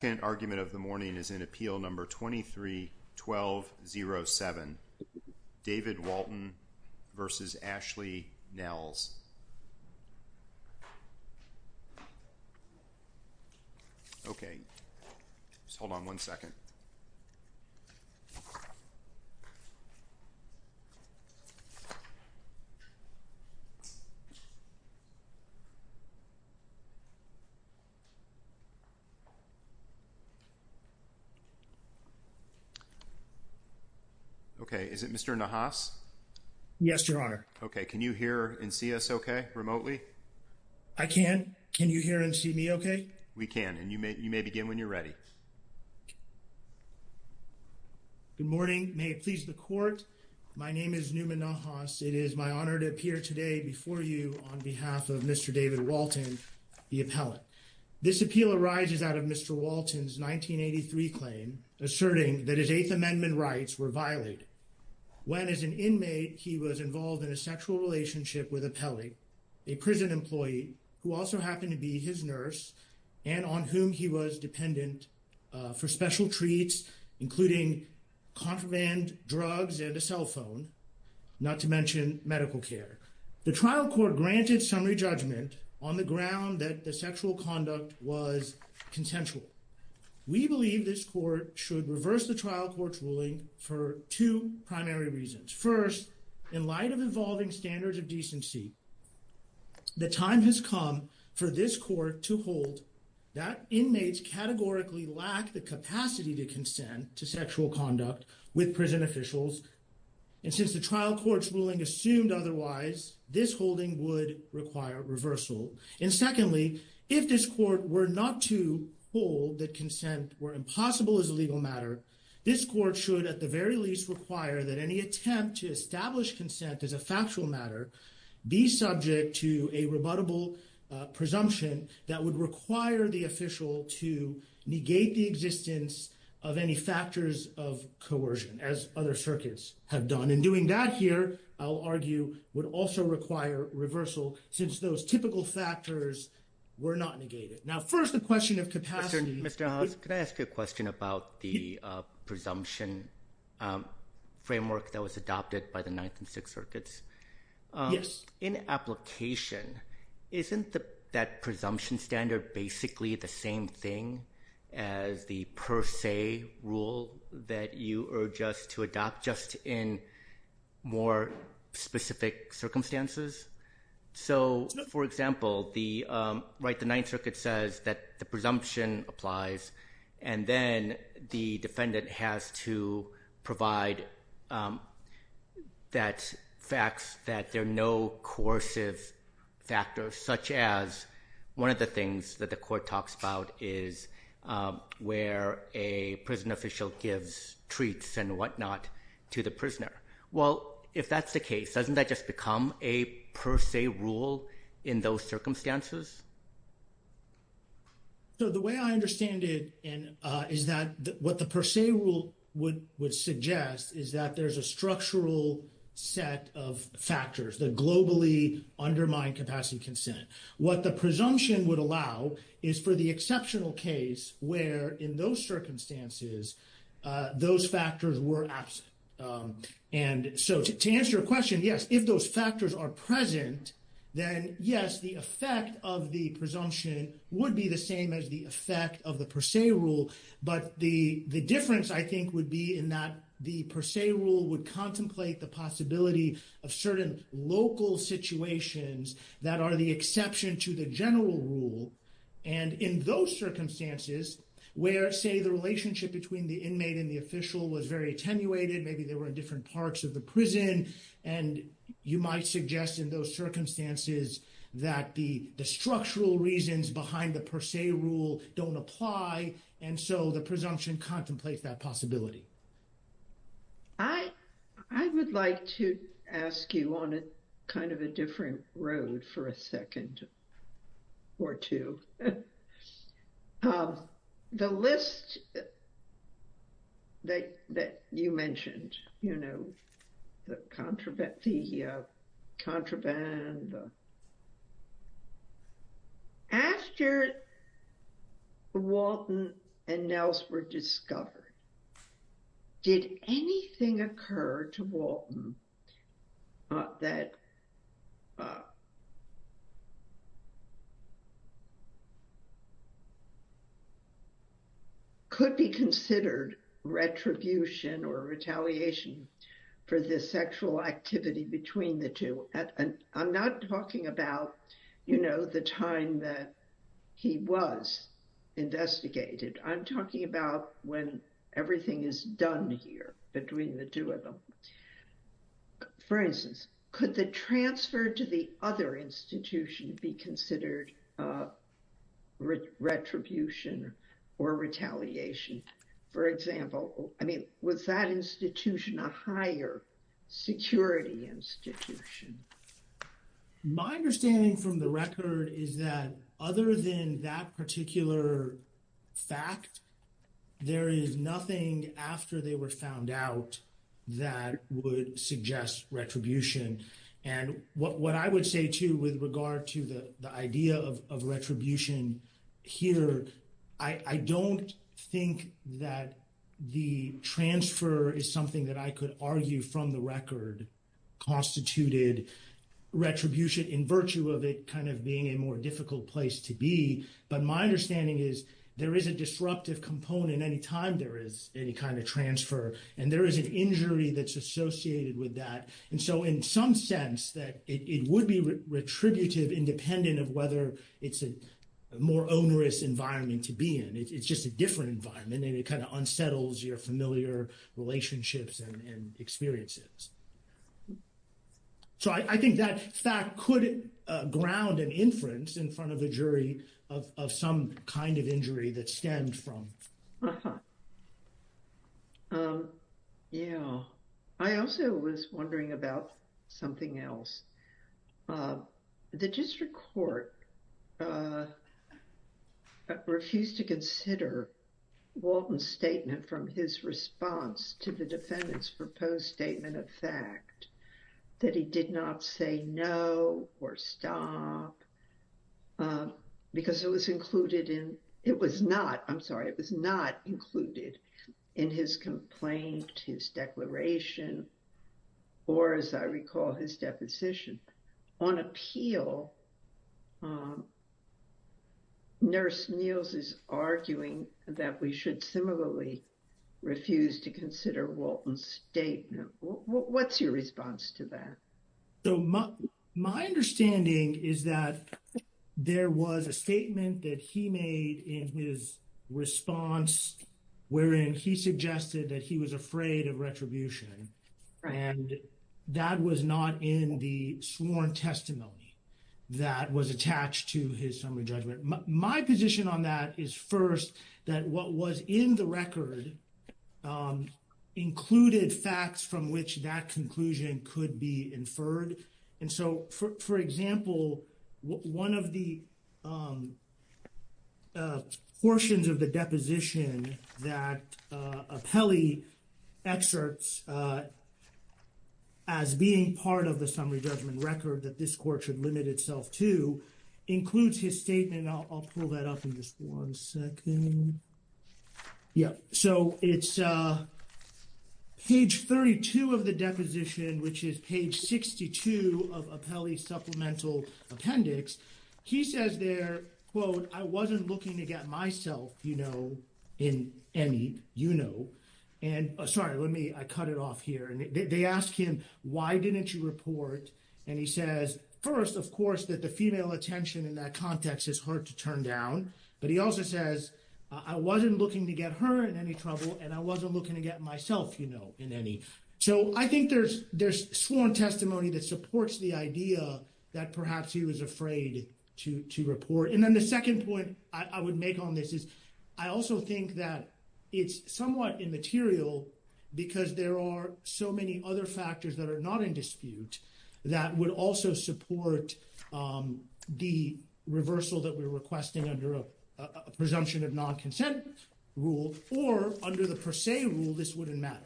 The second argument of the morning is in Appeal No. 23-12-07, David Walton v. Ashley Newman-Nahas Okay, is it Mr. Nahas? Yes, Your Honor. Okay, can you hear and see us okay, remotely? I can. Can you hear and see me okay? We can, and you may begin when you're ready. Good morning. May it please the Court. My name is Newman-Nahas. It is my honor to appear today before you on behalf of Mr. David Walton, the appellate. This appeal arises out of Mr. Walton's 1983 claim asserting that his Eighth Amendment rights were violated when, as an inmate, he was involved in a sexual relationship with a pelly, a prison employee who also happened to be his nurse and on whom he was dependent for special treats, including contraband drugs and a cell phone, not to mention medical care. The trial court granted summary judgment on the ground that the sexual conduct was consensual. We believe this court should reverse the trial court's ruling for two primary reasons. First, in light of evolving standards of decency, the time has come for this court to hold that inmates categorically lack the capacity to consent to sexual conduct with prison officials, and since the trial court's ruling assumed otherwise, this holding would require reversal. And secondly, if this court were not to hold that consent were impossible as a legal matter, this court should at the very least require that any attempt to establish consent as a factual matter be subject to a rebuttable presumption that would require the official to negate the existence of any factors of coercion, as other circuits have done. And doing that here, I'll argue, would also require reversal since those typical factors were not negated. Now, first the question of capacity... Mr. House, could I ask you a question about the presumption framework that was adopted by the Ninth and Sixth Circuits? Yes. In application, isn't that presumption standard basically the same thing as the per se rule that you urge us to adopt, just in more specific circumstances? So, for example, the Ninth Circuit says that the presumption applies, and then the defendant has to provide that facts that there are no coercive factors, such as one of the things that the court talks about is where a prison official gives and whatnot to the prisoner. Well, if that's the case, doesn't that just become a per se rule in those circumstances? So the way I understand it is that what the per se rule would suggest is that there's a structural set of factors that globally undermine capacity consent. What the presumption would allow is for the exceptional case where in those circumstances, those factors were absent. And so to answer your question, yes, if those factors are present, then yes, the effect of the presumption would be the same as the effect of the per se rule. But the difference, I think, would be in that the per se rule would contemplate the possibility of certain local situations that are the exception to the general rule. And in those circumstances, where say the relationship between the inmate and the official was very attenuated, maybe they were in different parts of the prison. And you might suggest in those circumstances, that the structural reasons behind the per se rule don't apply. And so the presumption contemplates that possibility. I would like to ask you on a kind of a different road for a second or two. The list that you mentioned, you know, the contraband, after Walton and Nels were discovered, did anything occur to Walton that could be considered retribution or retaliation for the sexual activity between the two? I'm not talking about, you know, the time that he was investigated. I'm talking about when everything is done here between the two of them. For instance, could the transfer to the other institution be considered retribution or retaliation? For example, I mean, was that institution a higher security institution? My understanding from the record is that other than that particular fact, there is nothing after they were found out that would suggest retribution. And what I would say too, with regard to the idea of retribution here, I don't think that the transfer is something that I could argue from the record constituted retribution in virtue of it kind of being a more place to be. But my understanding is there is a disruptive component any time there is any kind of transfer. And there is an injury that's associated with that. And so in some sense that it would be retributive independent of whether it's a more onerous environment to be in. It's just a different environment and it kind of unsettles your familiar relationships and experiences. So I think that fact could ground an inference in front of the jury of some kind of injury that stemmed from. Yeah. I also was wondering about something else. The district court refused to consider Walton's statement from his response to the defendant's proposed statement of fact, that he did not say no or stop because it was included in, it was not, I'm sorry, it was not included in his complaint, his declaration, or as I recall, his deposition on appeal. Um, nurse Neils is arguing that we should similarly refuse to consider Walton's statement. What's your response to that? So my understanding is that there was a statement that he made in his response, wherein he suggested that he was afraid of retribution. And that was not in the sworn testimony that was attached to his summary judgment. My position on that is first, that what was in the record included facts from which that conclusion could be inferred. And so for example, one of the portions of the deposition that Apelli excerpts as being part of the summary judgment record that this court should limit itself to includes his statement. I'll pull that up in just one second. Yeah. So it's page 32 of the deposition, which is page 62 of Apelli's supplemental appendix. He says there, quote, I wasn't looking to get myself, you know, in any, you know, and sorry, let me, I cut it off here. And they ask him, why didn't you report? And he says, first, of course, that the female attention in that context is hard to turn down. But he also says, I wasn't looking to get her in any trouble. And I wasn't looking to get myself, you know, in any. So I think there's sworn testimony that supports the idea that perhaps he was afraid to report. And then the second point I would make on this is I also think that it's somewhat immaterial because there are so many other factors that are not in dispute that would also support the reversal that we're requesting under a presumption of non-consent rule or under the rule this wouldn't matter.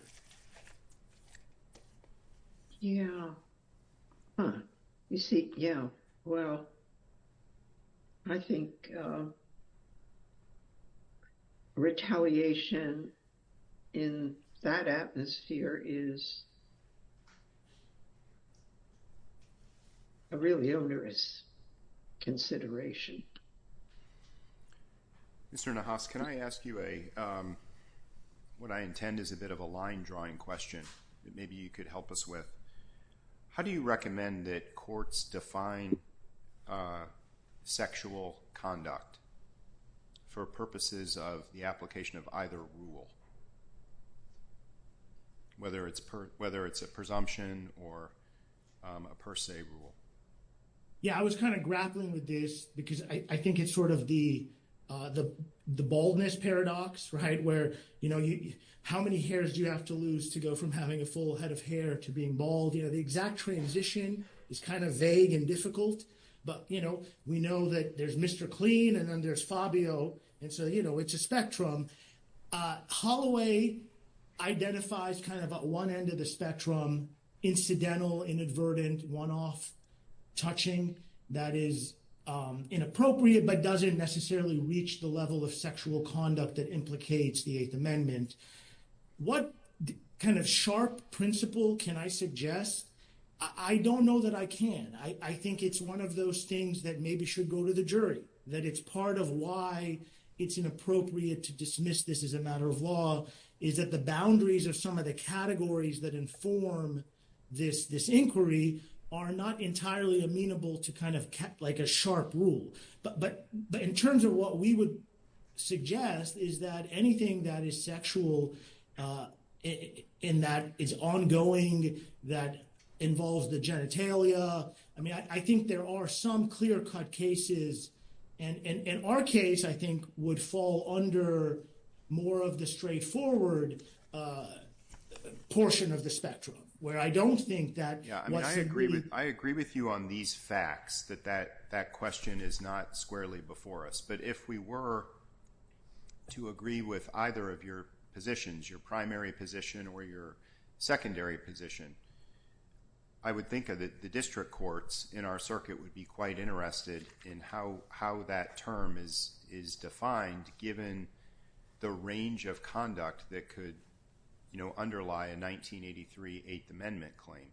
Yeah. You see? Yeah. Well, I think retaliation in that atmosphere is a really onerous consideration. Mr. Nahas, can I ask you a, what I intend is a bit of a line drawing question that maybe you could help us with. How do you recommend that courts define sexual conduct for purposes of the application of either rule, whether it's a presumption or a per se rule? Yeah, I was kind of grappling with this because I think it's sort of the baldness paradox, right? Where, you know, how many hairs do you have to lose to go from having a full head of hair to being bald? You know, the exact transition is kind of vague and difficult, but, you know, we know that there's Mr. Clean and then there's Fabio. And so, you know, it's a spectrum. Holloway identifies kind of at one end of the spectrum, incidental, inadvertent, one-off touching that is inappropriate, but doesn't necessarily reach the level of sexual conduct that implicates the Eighth Amendment. What kind of sharp principle can I suggest? I don't know that I can. I think it's one of those things that maybe should go to the jury, that it's part of why it's inappropriate to dismiss this as a matter of law, is that the boundaries of some of the categories that inform this inquiry are not entirely amenable to kind of like a sharp rule. But in terms of what we would suggest is that anything that is sexual, in that it's ongoing, that involves the genitalia, I mean, I think there are some clear-cut cases. And in our case, I think, would fall under more of the straightforward portion of the spectrum, where I don't think that... Yeah, I mean, I agree with you on these facts, that that question is not squarely before us. But if we were to agree with either of your positions, your primary position or your secondary position, I would think of the district courts in our circuit would be quite interested in how that term is defined, given the range of conduct that could underlie a 1983 Eighth Amendment claim.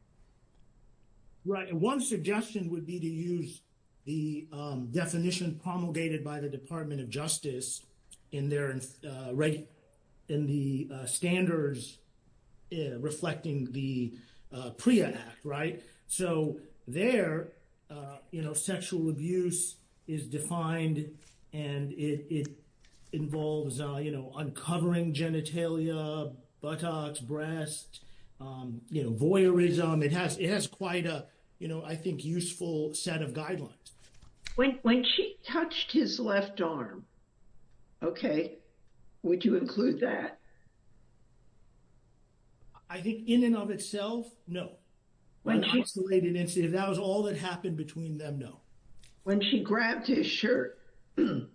Right, and one suggestion would be to use the definition promulgated by the Department of in their... in the standards reflecting the PREA Act, right? So there, sexual abuse is defined, and it involves uncovering genitalia, buttocks, breasts, voyeurism. It has quite a, you know, I think, useful set of guidelines. When she touched his left arm, okay, would you include that? I think in and of itself, no. When she... That was all that happened between them, no. When she grabbed his shirt. You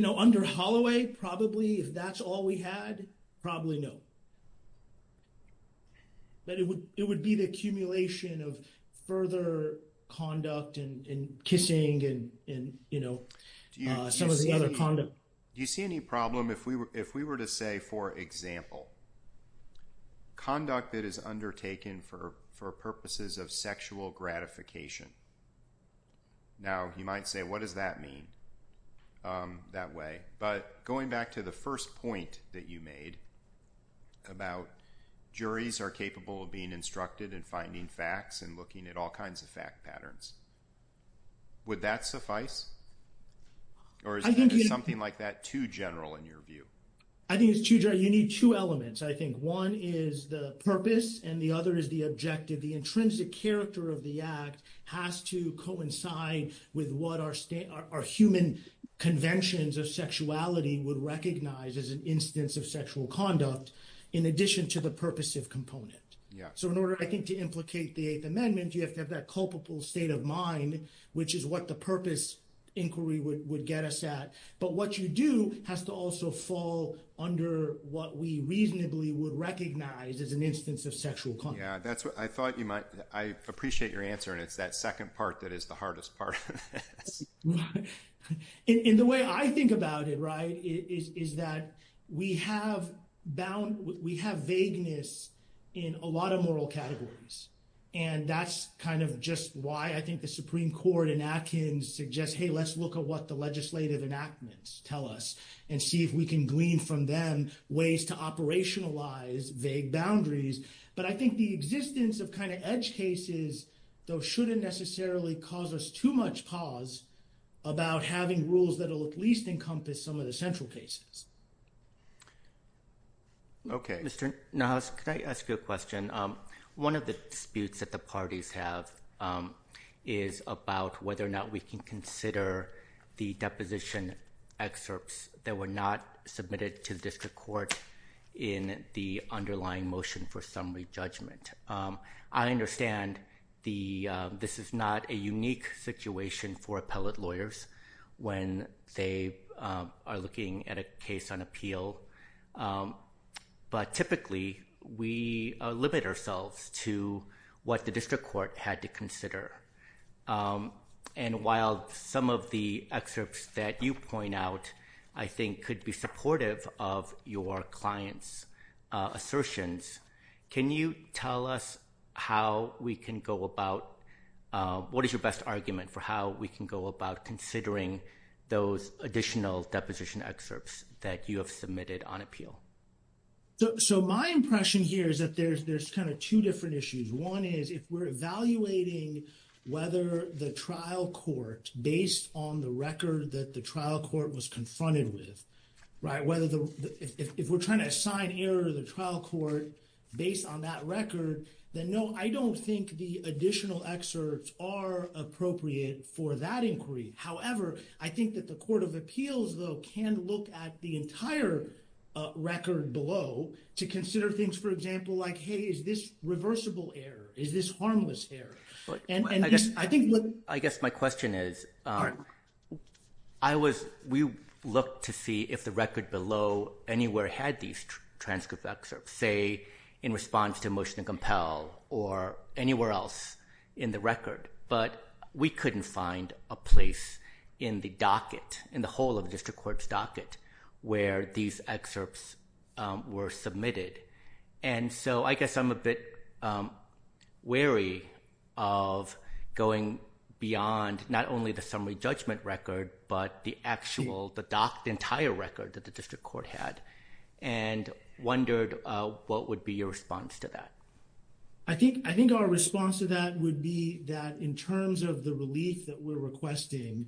know, under Holloway, probably, if that's all we had, probably no. But it would be the accumulation of further conduct and kissing and, you know, some of the other conduct. Do you see any problem if we were to say, for example, conduct that is undertaken for purposes of sexual gratification? Now, you might say, what does that mean that way? But going back to the first point that you made about juries are capable of being instructed and finding facts and looking at all kinds of fact patterns, would that suffice? Or is something like that too general in your view? I think it's too general. You need two elements, I think. One is the purpose, and the other is the objective. The intrinsic character of the act has to coincide with what our human conventions of sexuality would recognize as an instance of sexual conduct, in addition to the purpose of component. So in order, I think, to implicate the Eighth Amendment, you have to have that culpable state of mind, which is what the purpose inquiry would get us at. But what you do has to also fall under what we reasonably would recognize as an instance of sexual conduct. Yeah, that's what I thought you might... I appreciate your answer. And it's that second part that is the hardest part. Right. And the way I think about it, right, is that we have vagueness in a lot of moral categories. And that's kind of just why I think the Supreme Court and Atkins suggest, hey, let's look at what the legislative enactments tell us and see if we can glean from them ways to operationalize vague boundaries. But I think the existence of kind of edge cases, though, shouldn't necessarily cause us too much pause about having rules that will at least encompass some of the central cases. Okay. Mr. Nahas, could I ask you a question? One of the disputes that the parties have is about whether or not we can consider the deposition excerpts that were not submitted to the district court in the underlying motion for summary judgment. I understand this is not a unique situation for appellate lawyers when they are looking at a case on appeal. But typically, we limit ourselves to what the district court had to consider. And while some of the excerpts that you point out, I think, could be supportive of your client's assertions, can you tell us how we can go about, what is your best argument for how we can go about considering those additional deposition excerpts that you have submitted on appeal? So my impression here is that there's kind of two different issues. One is if we're evaluating whether the trial court, based on the record that the trial court was confronted with, right, whether the, if we're trying to assign error to the trial court based on that record, then no, I don't think the additional excerpts are appropriate for that inquiry. However, I think that the court of appeals, though, can look at the entire record below to consider things, for example, like, hey, is this reversible error? Is this harmless error? I guess my question is, I was, we looked to see if the record below anywhere had these transcript excerpts, say, in response to motion to compel, or anywhere else in the record. But we couldn't find a place in the docket, in the whole of the district court's docket, where these excerpts were submitted. And so I guess I'm a bit wary of going beyond not only the summary judgment record, but the actual, the docked entire record that the district court had, and wondered what would be your response to that? I think our response to that would be that in terms of the relief that we're requesting,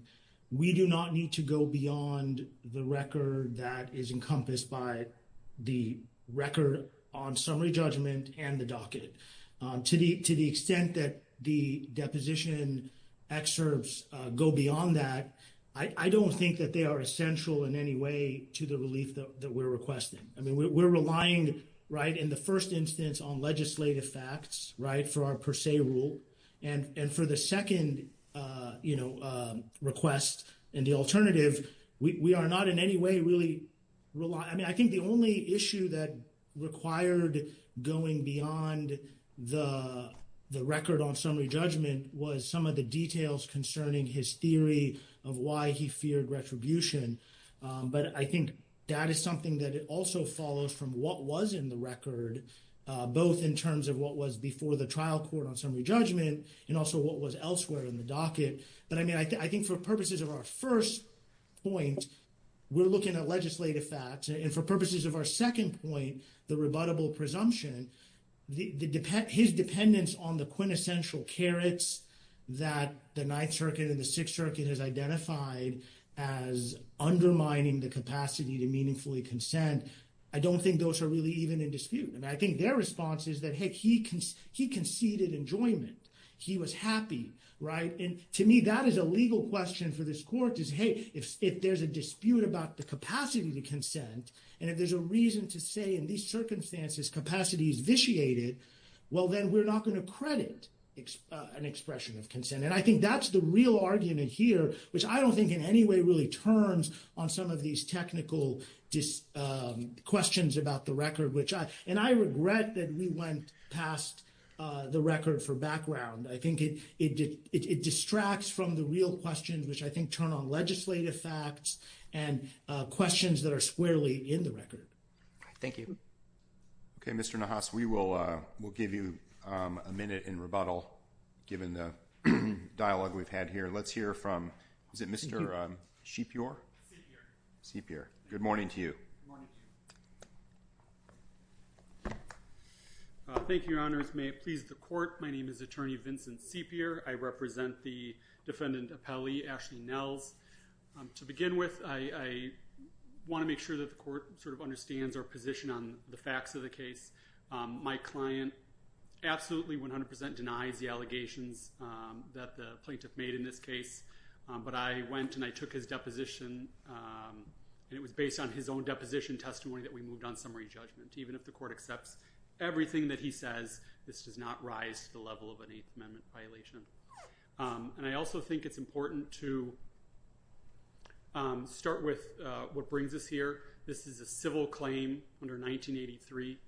we do not need to go beyond the record that is encompassed by the record on summary judgment and the docket. To the extent that the deposition excerpts go beyond that, I don't think that they are essential in any way to the relief that we're requesting. I mean, we're relying, right, in the first instance on legislative facts, right, for our per se rule. And for the second, you know, request and the alternative, we are not in any way really relying. I mean, I think the only issue that required going beyond the record on summary judgment was some of the details concerning his theory of why he feared retribution. But I think that is something that also follows from what was in the record, both in terms of what was before the trial court on the docket. But I mean, I think for purposes of our first point, we're looking at legislative facts. And for purposes of our second point, the rebuttable presumption, his dependence on the quintessential carrots that the Ninth Circuit and the Sixth Circuit has identified as undermining the capacity to meaningfully consent, I don't think those are really even in dispute. I mean, their response is that, hey, he conceded enjoyment. He was happy, right? And to me, that is a legal question for this court is, hey, if there's a dispute about the capacity to consent, and if there's a reason to say in these circumstances, capacity is vitiated, well, then we're not going to credit an expression of consent. And I think that's the real argument here, which I don't think in any way really turns on some of these technical dis, questions about the record, which I, and I regret that we went past the record for background, I think it, it, it distracts from the real questions, which I think turn on legislative facts, and questions that are squarely in the record. Thank you. Okay, Mr. Nahas, we will, we'll give you a minute in rebuttal, given the dialogue we've had here. Let's hear from Is it Mr. Shepior? Shepior. Good morning to you. Thank you, your honors. May it please the court. My name is attorney Vincent Shepior. I represent the defendant appellee, Ashley Nells. To begin with, I, I want to make sure that the court sort of understands our position on the facts of the case. My client absolutely 100% denies the allegations that the plaintiff made in this case. But I went and I took his deposition. And it was based on his own deposition testimony that we moved on summary judgment, even if the court accepts everything that he says, this does not rise to the level of an eighth amendment violation. And I also think it's important to start with what brings us here. This is a civil claim under 1983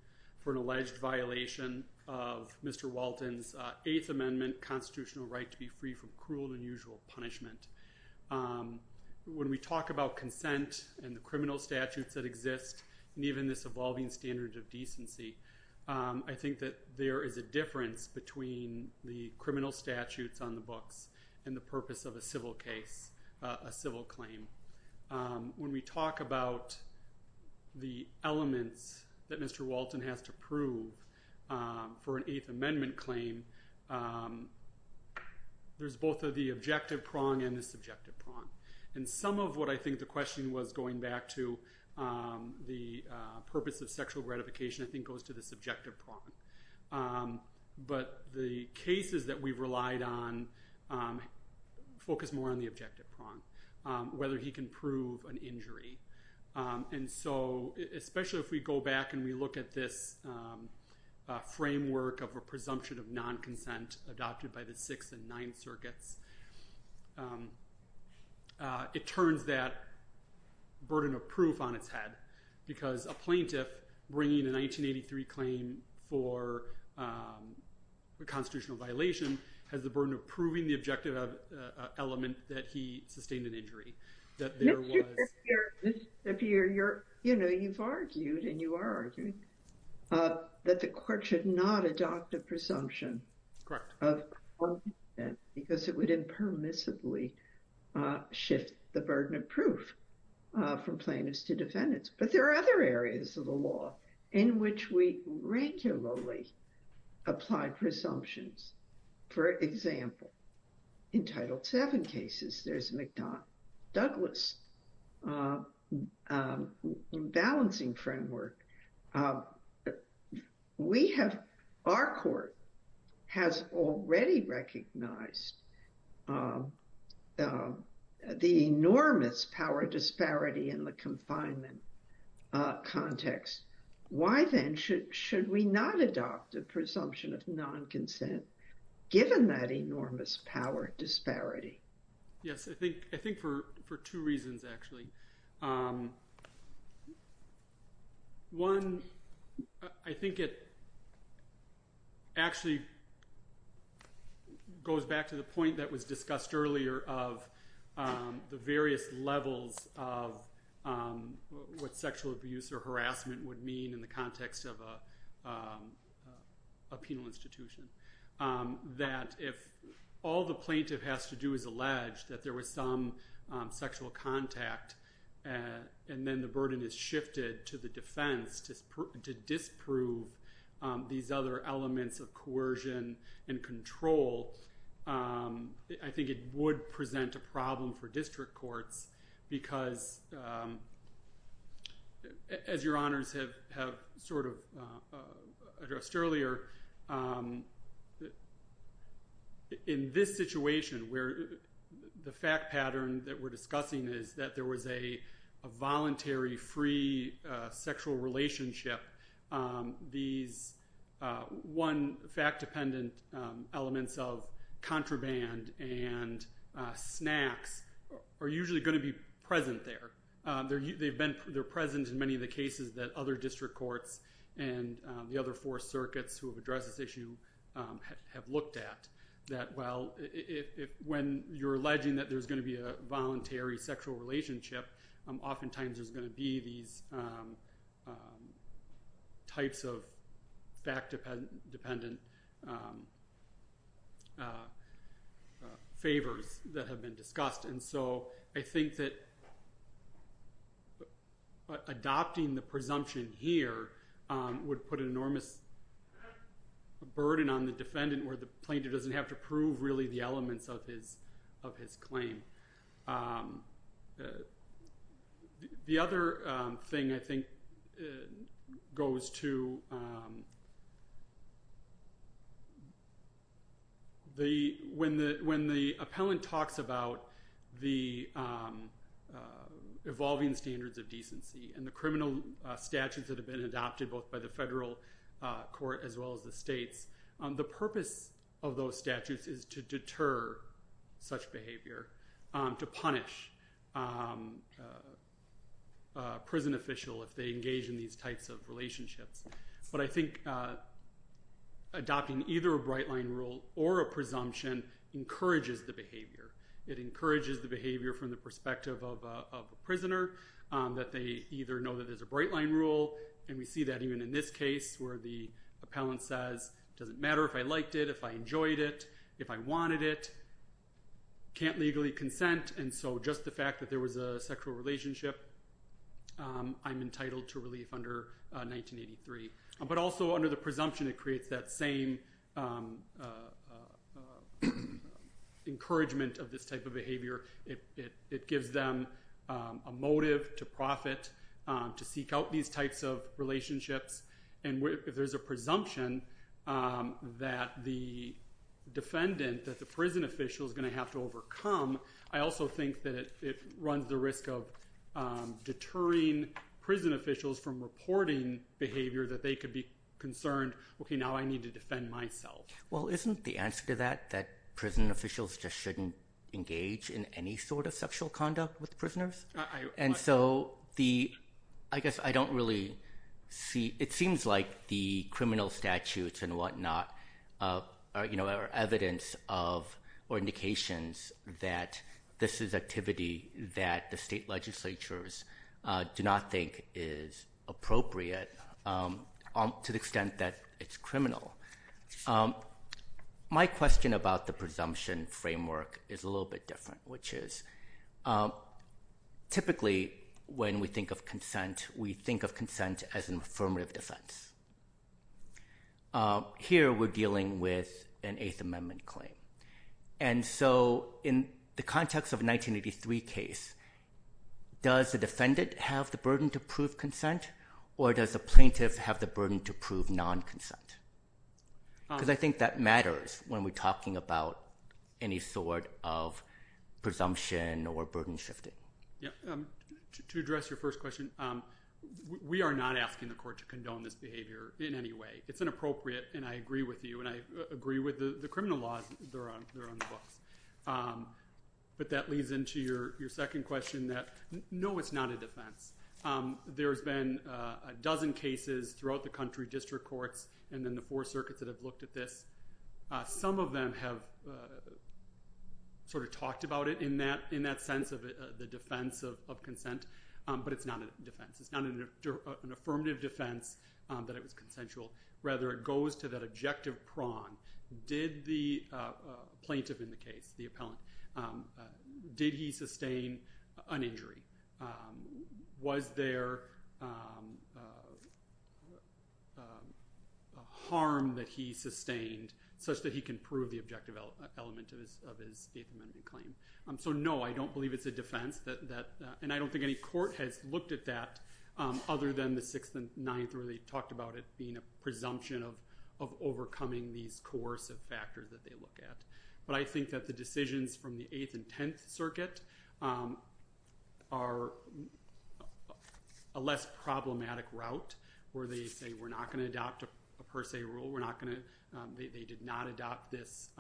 for an alleged violation of Mr. Walton's eighth amendment constitutional right to be free from cruel and unusual punishment. When we talk about consent and the criminal statutes that exist, and even this evolving standard of decency, I think that there is a difference between the criminal statutes on the books and the purpose of a civil case, a civil claim. When we talk about the elements that Mr. Walton has to prove for an eighth amendment claim, there's both of the objective prong and the subjective prong. And some of what I think the question was going back to the purpose of sexual gratification, I think goes to the subjective prong. But the cases that we've relied on focus more on the objective prong, whether he can prove an injury. And so especially if we go back and we look at this framework of a presumption of non-consent adopted by the sixth and ninth circuits, it turns that burden of proof on its head because a plaintiff bringing a 1983 claim for a constitutional violation has the burden of proving the objective element that he sustained an injury. You know, you've argued and you are arguing that the court should not adopt a presumption of consent because it would impermissibly shift the burden of proof from plaintiffs to defendants. But there are other areas of the law in which we regularly apply presumptions. For example, in Title VII cases, there's McDonnell Douglas' balancing framework. Our court has already recognized the enormous power disparity in the confinement context. Why then should we not adopt a presumption of non-consent given that enormous power disparity? Yes, I think for two reasons, actually. One, I think it actually goes back to the point that was discussed earlier of the various levels of what sexual abuse or harassment would mean in the institution. That if all the plaintiff has to do is allege that there was some sexual contact, and then the burden is shifted to the defense to disprove these other elements of coercion and control, I think it would present a problem for district courts because, as your honors have sort of addressed earlier, in this situation where the fact pattern that we're discussing is that there was a voluntary free sexual relationship, these one fact dependent elements of contraband and snacks are usually going to be present there. They're present in many of the cases that other district courts and the other four circuits who have addressed this issue have looked at. When you're alleging that there's going to be a voluntary sexual relationship, oftentimes there's going to be these types of fact dependent favors that have been discussed. I think that adopting the presumption here would put an enormous burden on the defendant where the have to prove really the elements of his claim. The other thing I think goes to when the appellant talks about the evolving standards of decency and the criminal statutes that have been adopted both by the federal court as well as the states, the purpose of those statutes is to deter such behavior, to punish a prison official if they engage in these types of relationships. But I think adopting either a bright line rule or a presumption encourages the behavior. It encourages the behavior from the perspective of a prisoner that they either know that there's a bright line rule, and we see that even in this case where the appellant says, it doesn't matter if I liked it, if I enjoyed it, if I wanted it, can't legally consent, and so just the fact that there was a sexual relationship, I'm entitled to relief under 1983. But also under the presumption, it creates that same encouragement of this type of behavior. It gives them a motive to profit to seek out these types of relationships, and if there's a presumption that the defendant, that the prison official is going to have to overcome, I also think that it runs the risk of deterring prison officials from reporting behavior that they could be concerned, okay, now I need to defend myself. Well, isn't the answer to that that prison officials just shouldn't engage in any sort of sexual conduct with prisoners? And so I guess I don't really see, it seems like the criminal statutes and whatnot are evidence of, or indications that this is activity that the state legislatures do not think is appropriate to the extent that it's criminal. My question about the presumption framework is a little bit different, which is typically when we think of consent, we think of consent as an affirmative defense. Here we're dealing with an Eighth Amendment claim, and so in the context of 1983 case, does the defendant have the burden to prove consent, or does the plaintiff have the burden to prove non-consent? Because I think that matters when we're talking about any sort of presumption or burden shifting. Yeah, to address your first question, we are not asking the court to condone this behavior in any way. It's inappropriate, and I agree with you, and I agree with the criminal laws that are on the books. But that leads into your second question that, no, it's not a defense. There's been a dozen cases throughout the country, district courts, and then the four circuits that have looked at this. Some of them have sort of talked about it in that sense of the defense of consent, but it's not a defense. It's not an affirmative defense that it was consensual. Rather, it goes to that objective prong. Did the plaintiff in the case, the appellant, did he sustain an injury? Was there a harm that he sustained such that he can prove the objective element of his Eighth Amendment claim? So no, I don't believe it's a defense, and I don't think any court has looked at that other than the Sixth and Ninth where they talked about it being a presumption of overcoming these coercive factors that they look at. But I think that the decisions from the Eighth and Tenth Circuit are a less problematic route where they say we're not going to adopt a per se rule. They did not adopt this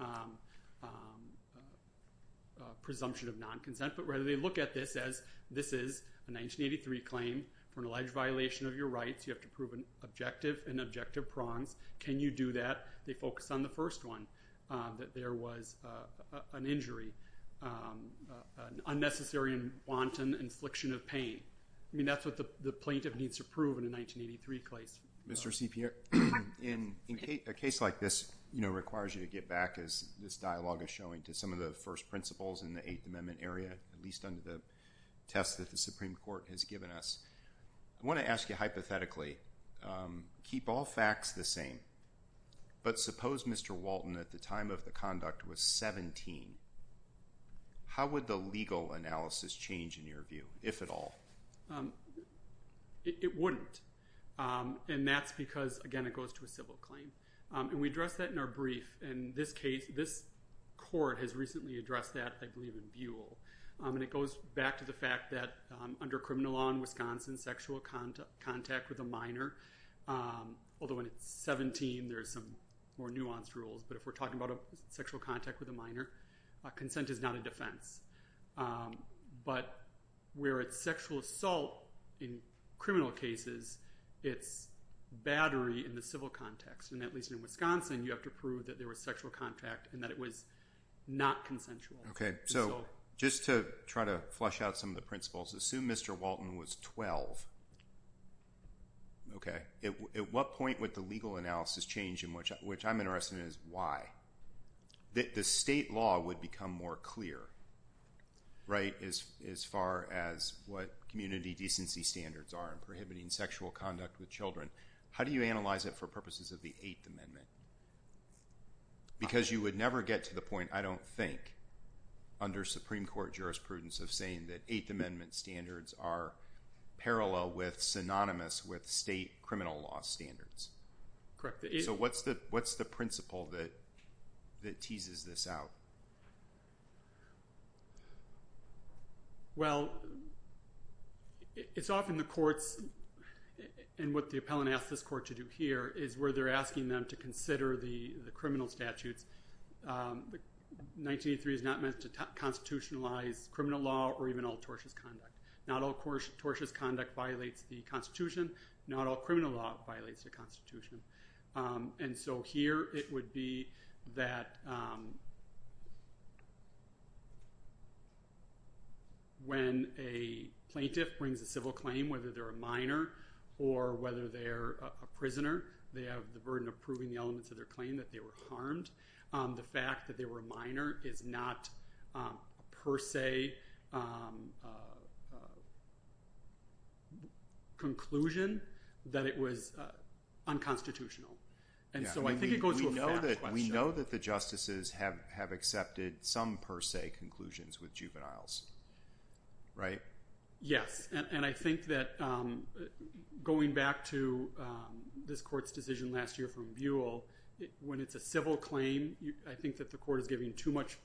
presumption of non-consent. But rather, they look at this as this is a 1983 claim for an alleged violation of your rights. You have to prove an objective and objective prongs. Can you do that? They focus on the first one, that there was an injury, an unnecessary and wanton infliction of pain. I mean, that's what the plaintiff needs to prove in a 1983 case. Mr. C. Pierre, a case like this requires you to get back, as this dialogue is going, to some of the first principles in the Eighth Amendment area, at least under the test that the Supreme Court has given us. I want to ask you hypothetically, keep all facts the same, but suppose Mr. Walton at the time of the conduct was 17. How would the legal analysis change in your view, if at all? It wouldn't. And that's because, again, it goes to a civil claim. And we addressed that in our case. This court has recently addressed that, I believe, in Buell. And it goes back to the fact that under criminal law in Wisconsin, sexual contact with a minor, although when it's 17, there's some more nuanced rules. But if we're talking about sexual contact with a minor, consent is not a defense. But where it's sexual assault in criminal cases, it's battery in the civil context. And at least in Wisconsin, you have to prove that there was sexual contact and that it was not consensual. Okay. So just to try to flush out some of the principles, assume Mr. Walton was 12. Okay. At what point would the legal analysis change, which I'm interested in, is why? The state law would become more clear, right, as far as what community decency standards are prohibiting sexual conduct with children. How do you analyze it for purposes of the Eighth Amendment? Because you would never get to the point, I don't think, under Supreme Court jurisprudence of saying that Eighth Amendment standards are parallel with synonymous with state criminal law standards. Correct. So what's the principle that teases this out? Well, it's often the courts, and what the appellant asked this court to do here, is where they're asking them to consider the criminal statutes. 1983 is not meant to constitutionalize criminal law or even all tortious conduct. Not all tortious conduct violates the Constitution. Not all criminal law violates the Constitution. And so here, it would be that when a plaintiff brings a civil claim, whether they're a minor or whether they're a prisoner, they have the burden of proving the elements of their claim that they were harmed. The fact that they were a minor is not a per se conclusion that it was unconstitutional. And so I think it goes to a fair question. We know that the justices have accepted some per se conclusions with juveniles, right? Yes. And I think that going back to this court's decision last year from Buell, when it's a civil claim, I think that the court is giving too much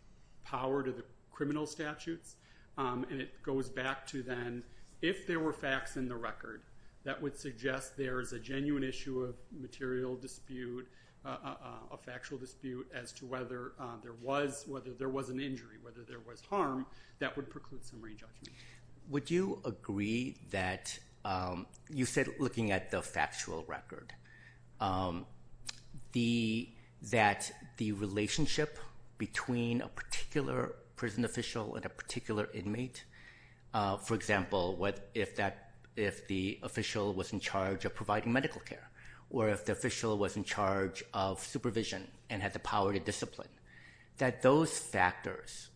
power to the criminal statutes. And it goes back to then, if there were facts in the record, that would suggest there is a genuine issue of material dispute, a factual dispute, as to whether there was an injury, whether there was harm, that would preclude summary and judgment. Would you agree that you said looking at the factual record, that the relationship between a particular prison official and a particular inmate, for example, if the official was in charge of providing medical care, or if the official was in charge of supervision and had the power to discipline, that those factors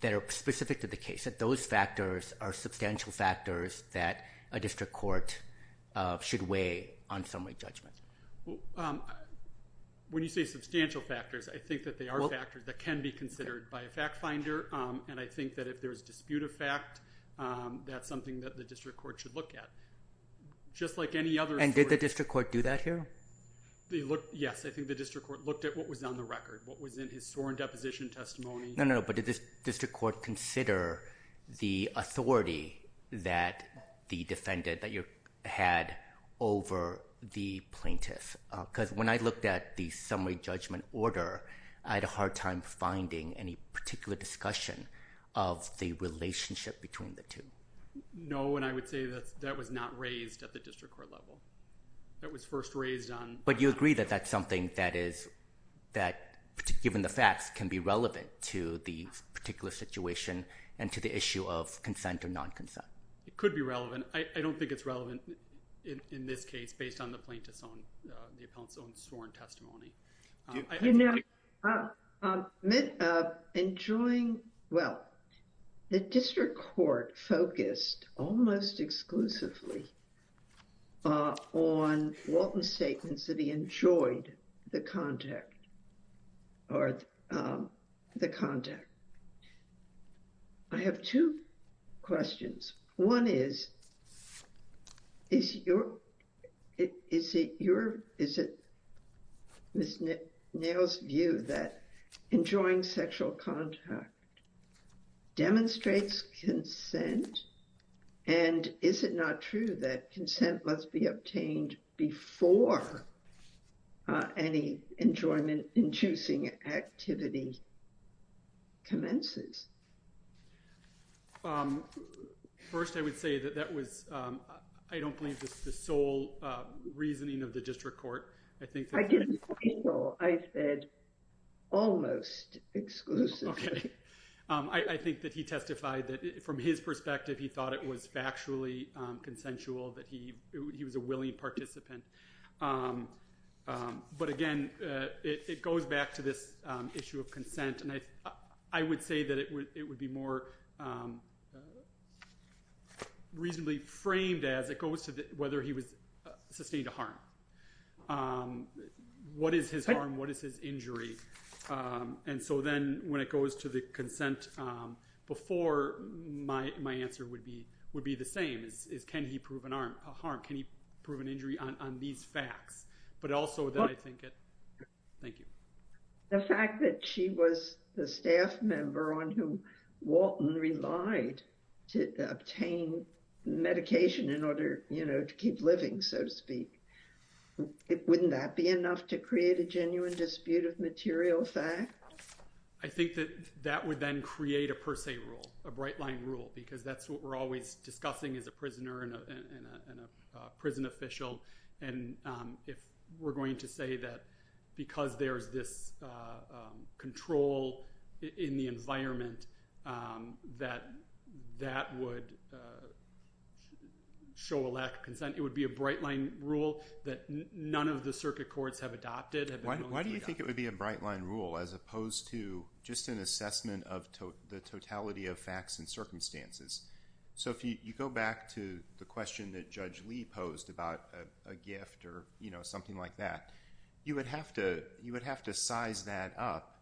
that are specific to the case, that those factors are substantial factors that a district court should weigh on summary judgment? When you say substantial factors, I think that they are factors that can be considered by a fact finder. And I think that if there's dispute of fact, that's something that the district court should look at. Just like any other... And did the district court do that here? Yes. I think the district court looked at what was on the record, what was in his sworn deposition testimony. But did the district court consider the authority that the defendant had over the plaintiff? Because when I looked at the summary judgment order, I had a hard time finding any particular discussion of the relationship between the two. No. And I would say that that was not raised at the district court level. That was first raised on... You agree that that's something that, given the facts, can be relevant to the particular situation and to the issue of consent or non-consent? It could be relevant. I don't think it's relevant in this case based on the plaintiff's own sworn testimony. You know, enjoying... Well, the district court focused almost exclusively on Walton's statements that he enjoyed the contact or the contact. I have two questions. One is, is it your... Is it Ms. Nail's view that enjoying sexual contact demonstrates consent? And is it not true that consent must be obtained before any enjoyment-inducing activity commences? First, I would say that that was, I don't believe, the sole reasoning of the district court. I think that... I didn't say sole. I said almost exclusively. Okay. I think that he testified that, from his perspective, he thought it was factually consensual, that he was a willing participant. But again, it goes back to this issue of consent. And I would say that it would be more reasonably framed as it goes to whether he was sustained harm. What is his harm? What is his injury? And so then, when it goes to the consent, before, my answer would be the same, is can he prove a harm? Can he prove an injury on these facts? But also that I think... Thank you. The fact that she was the staff member on whom Walton relied to obtain medication in order to keep living, so to speak, wouldn't that be enough to create a genuine dispute of material fact? I think that that would then create a per se rule, a bright line rule, because that's what we're always discussing as a prisoner and a prison official. And if we're going to say that, because there's this control in the environment, that that would show a lack of consent, it would be a bright line rule that none of the circuit courts have adopted. Why do you think it would be a bright line rule as opposed to just an assessment of the totality of facts and circumstances? So if you go back to the question that Judge Lee posed about a gift or something like that, you would have to size that up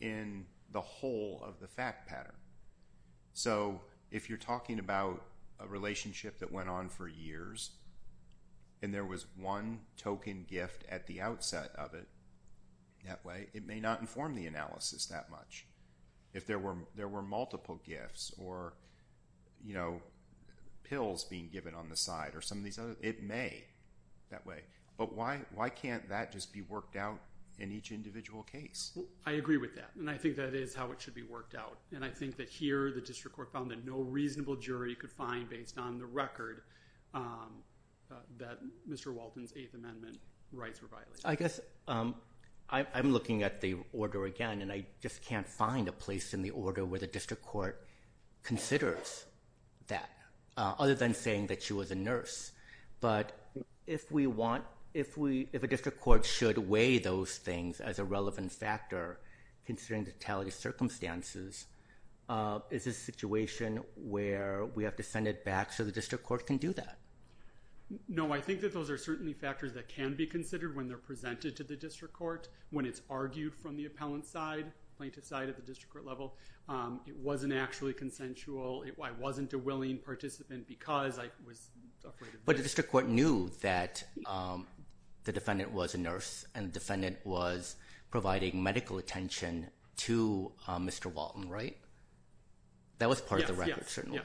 in the whole of the fact pattern. So if you're talking about a relationship that went on for years and there was one token gift at the outset of it that way, it may not inform the analysis that much. If there were multiple gifts or pills being given on the side or some of these others, it may that way. But why can't that just be worked out in each individual case? I agree with that. And I think that is how it should be worked out. And I think that here the district court found that no reasonable jury could find based on the record that Mr. Walton's Eighth Amendment rights were violated. I guess I'm looking at the order again and I just can't find a place in the order where the district court considers that, other than saying that she was a nurse. But if a district court should weigh those things as a relevant factor, considering the totality of circumstances, is this a situation where we have to send it back so the district court can do that? No, I think that those are certainly factors that can be considered when they're presented to the district court, when it's argued from the appellant side, plaintiff side at the district court level. It wasn't actually consensual. I wasn't a willing participant because I was afraid of it. But the district court knew that the defendant was a nurse and the defendant was providing medical attention to Mr. Walton, right? That was part of the record, certainly.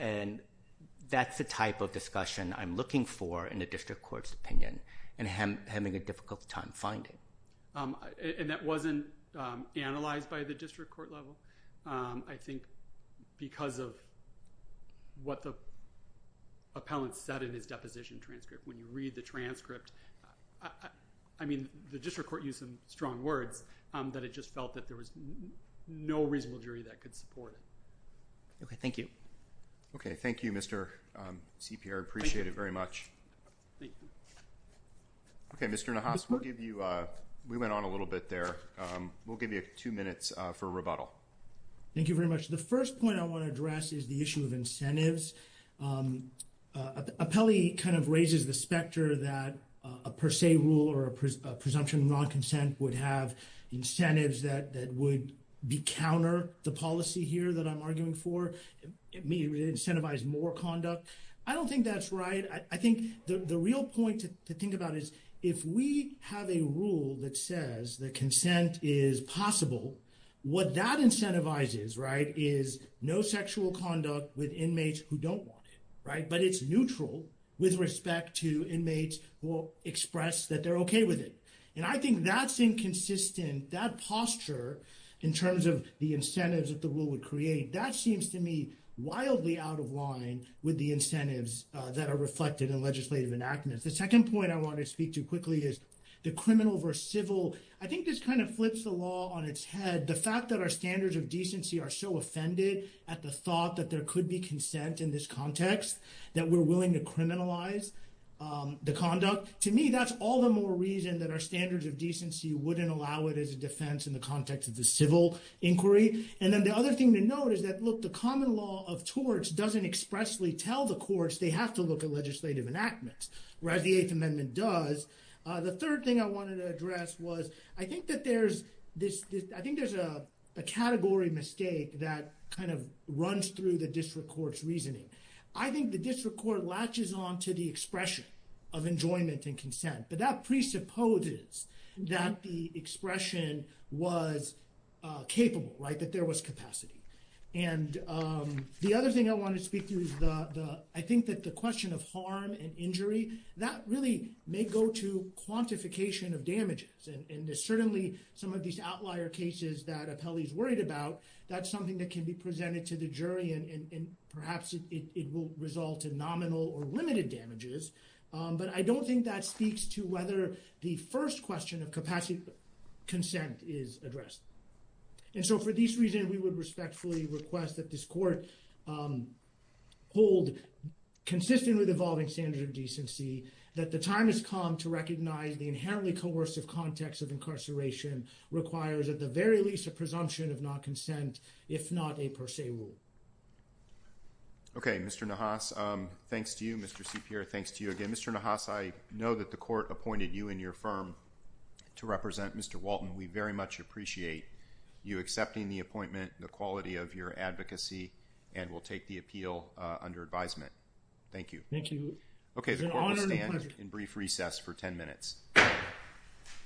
And that's the type of discussion I'm looking for in a district court's opinion and having a difficult time finding. And that wasn't analyzed by the district court level, I think, because of what the appellant said in his deposition transcript. When you read the transcript, I mean, the district court used some strong words that it just felt that there was no reasonable jury that could support it. Okay, thank you. Okay, thank you, Mr. CPR. I appreciate it very much. Thank you. Okay, Mr. Nahas, we'll give you, we went on a little bit there. We'll give you two minutes for rebuttal. Thank you very much. The first point I want to address is the issue of incentives. Appellee kind of raises the specter that a per se rule or a presumption of non-consent would have incentives that would be counter the policy here that I'm arguing for. It may incentivize more conduct. I don't think that's right. I think the real point to think about is if we have a rule that says that consent is possible, what that incentivizes, right, is no sexual conduct with inmates who don't want it, right, but it's neutral with respect to inmates who express that they're okay with it. And I think that's inconsistent. That posture in terms of the incentives that the rule would create, that seems to me wildly out of line with the incentives that are reflected in legislative enactments. The second point I want to speak to quickly is the criminal versus civil. I think this kind of flips the law on its head. The fact that our context that we're willing to criminalize the conduct, to me, that's all the more reason that our standards of decency wouldn't allow it as a defense in the context of the civil inquiry. And then the other thing to note is that, look, the common law of torts doesn't expressly tell the courts they have to look at legislative enactments, whereas the Eighth Amendment does. The third thing I wanted to address was I think that there's this, I think there's a category mistake that kind of runs through the district court's reasoning. I think the district court latches on to the expression of enjoyment and consent, but that presupposes that the expression was capable, right, that there was capacity. And the other thing I want to speak to is the, I think that the question of harm and injury, that really may go to quantification of damages. And there's certainly some of these outlier cases that Apelli's worried about. That's something that can be presented to the jury and perhaps it will result in nominal or limited damages. But I don't think that speaks to whether the first question of capacity consent is addressed. And so for these reasons, we would respectfully request that this court hold, consistent with evolving standards of decency, that the time has come to recognize the inherently coercive context of incarceration requires at the very least a presumption of non-consent, if not a per se rule. Okay, Mr. Nahas, thanks to you. Mr. Cipri, thanks to you again. Mr. Nahas, I know that the court appointed you and your firm to represent Mr. Walton. We very much appreciate you accepting the appointment, the quality of your advocacy, and will take the appeal under advisement. Thank you. Thank you. Okay, the court will stand in brief recess for 10 minutes. Thank you.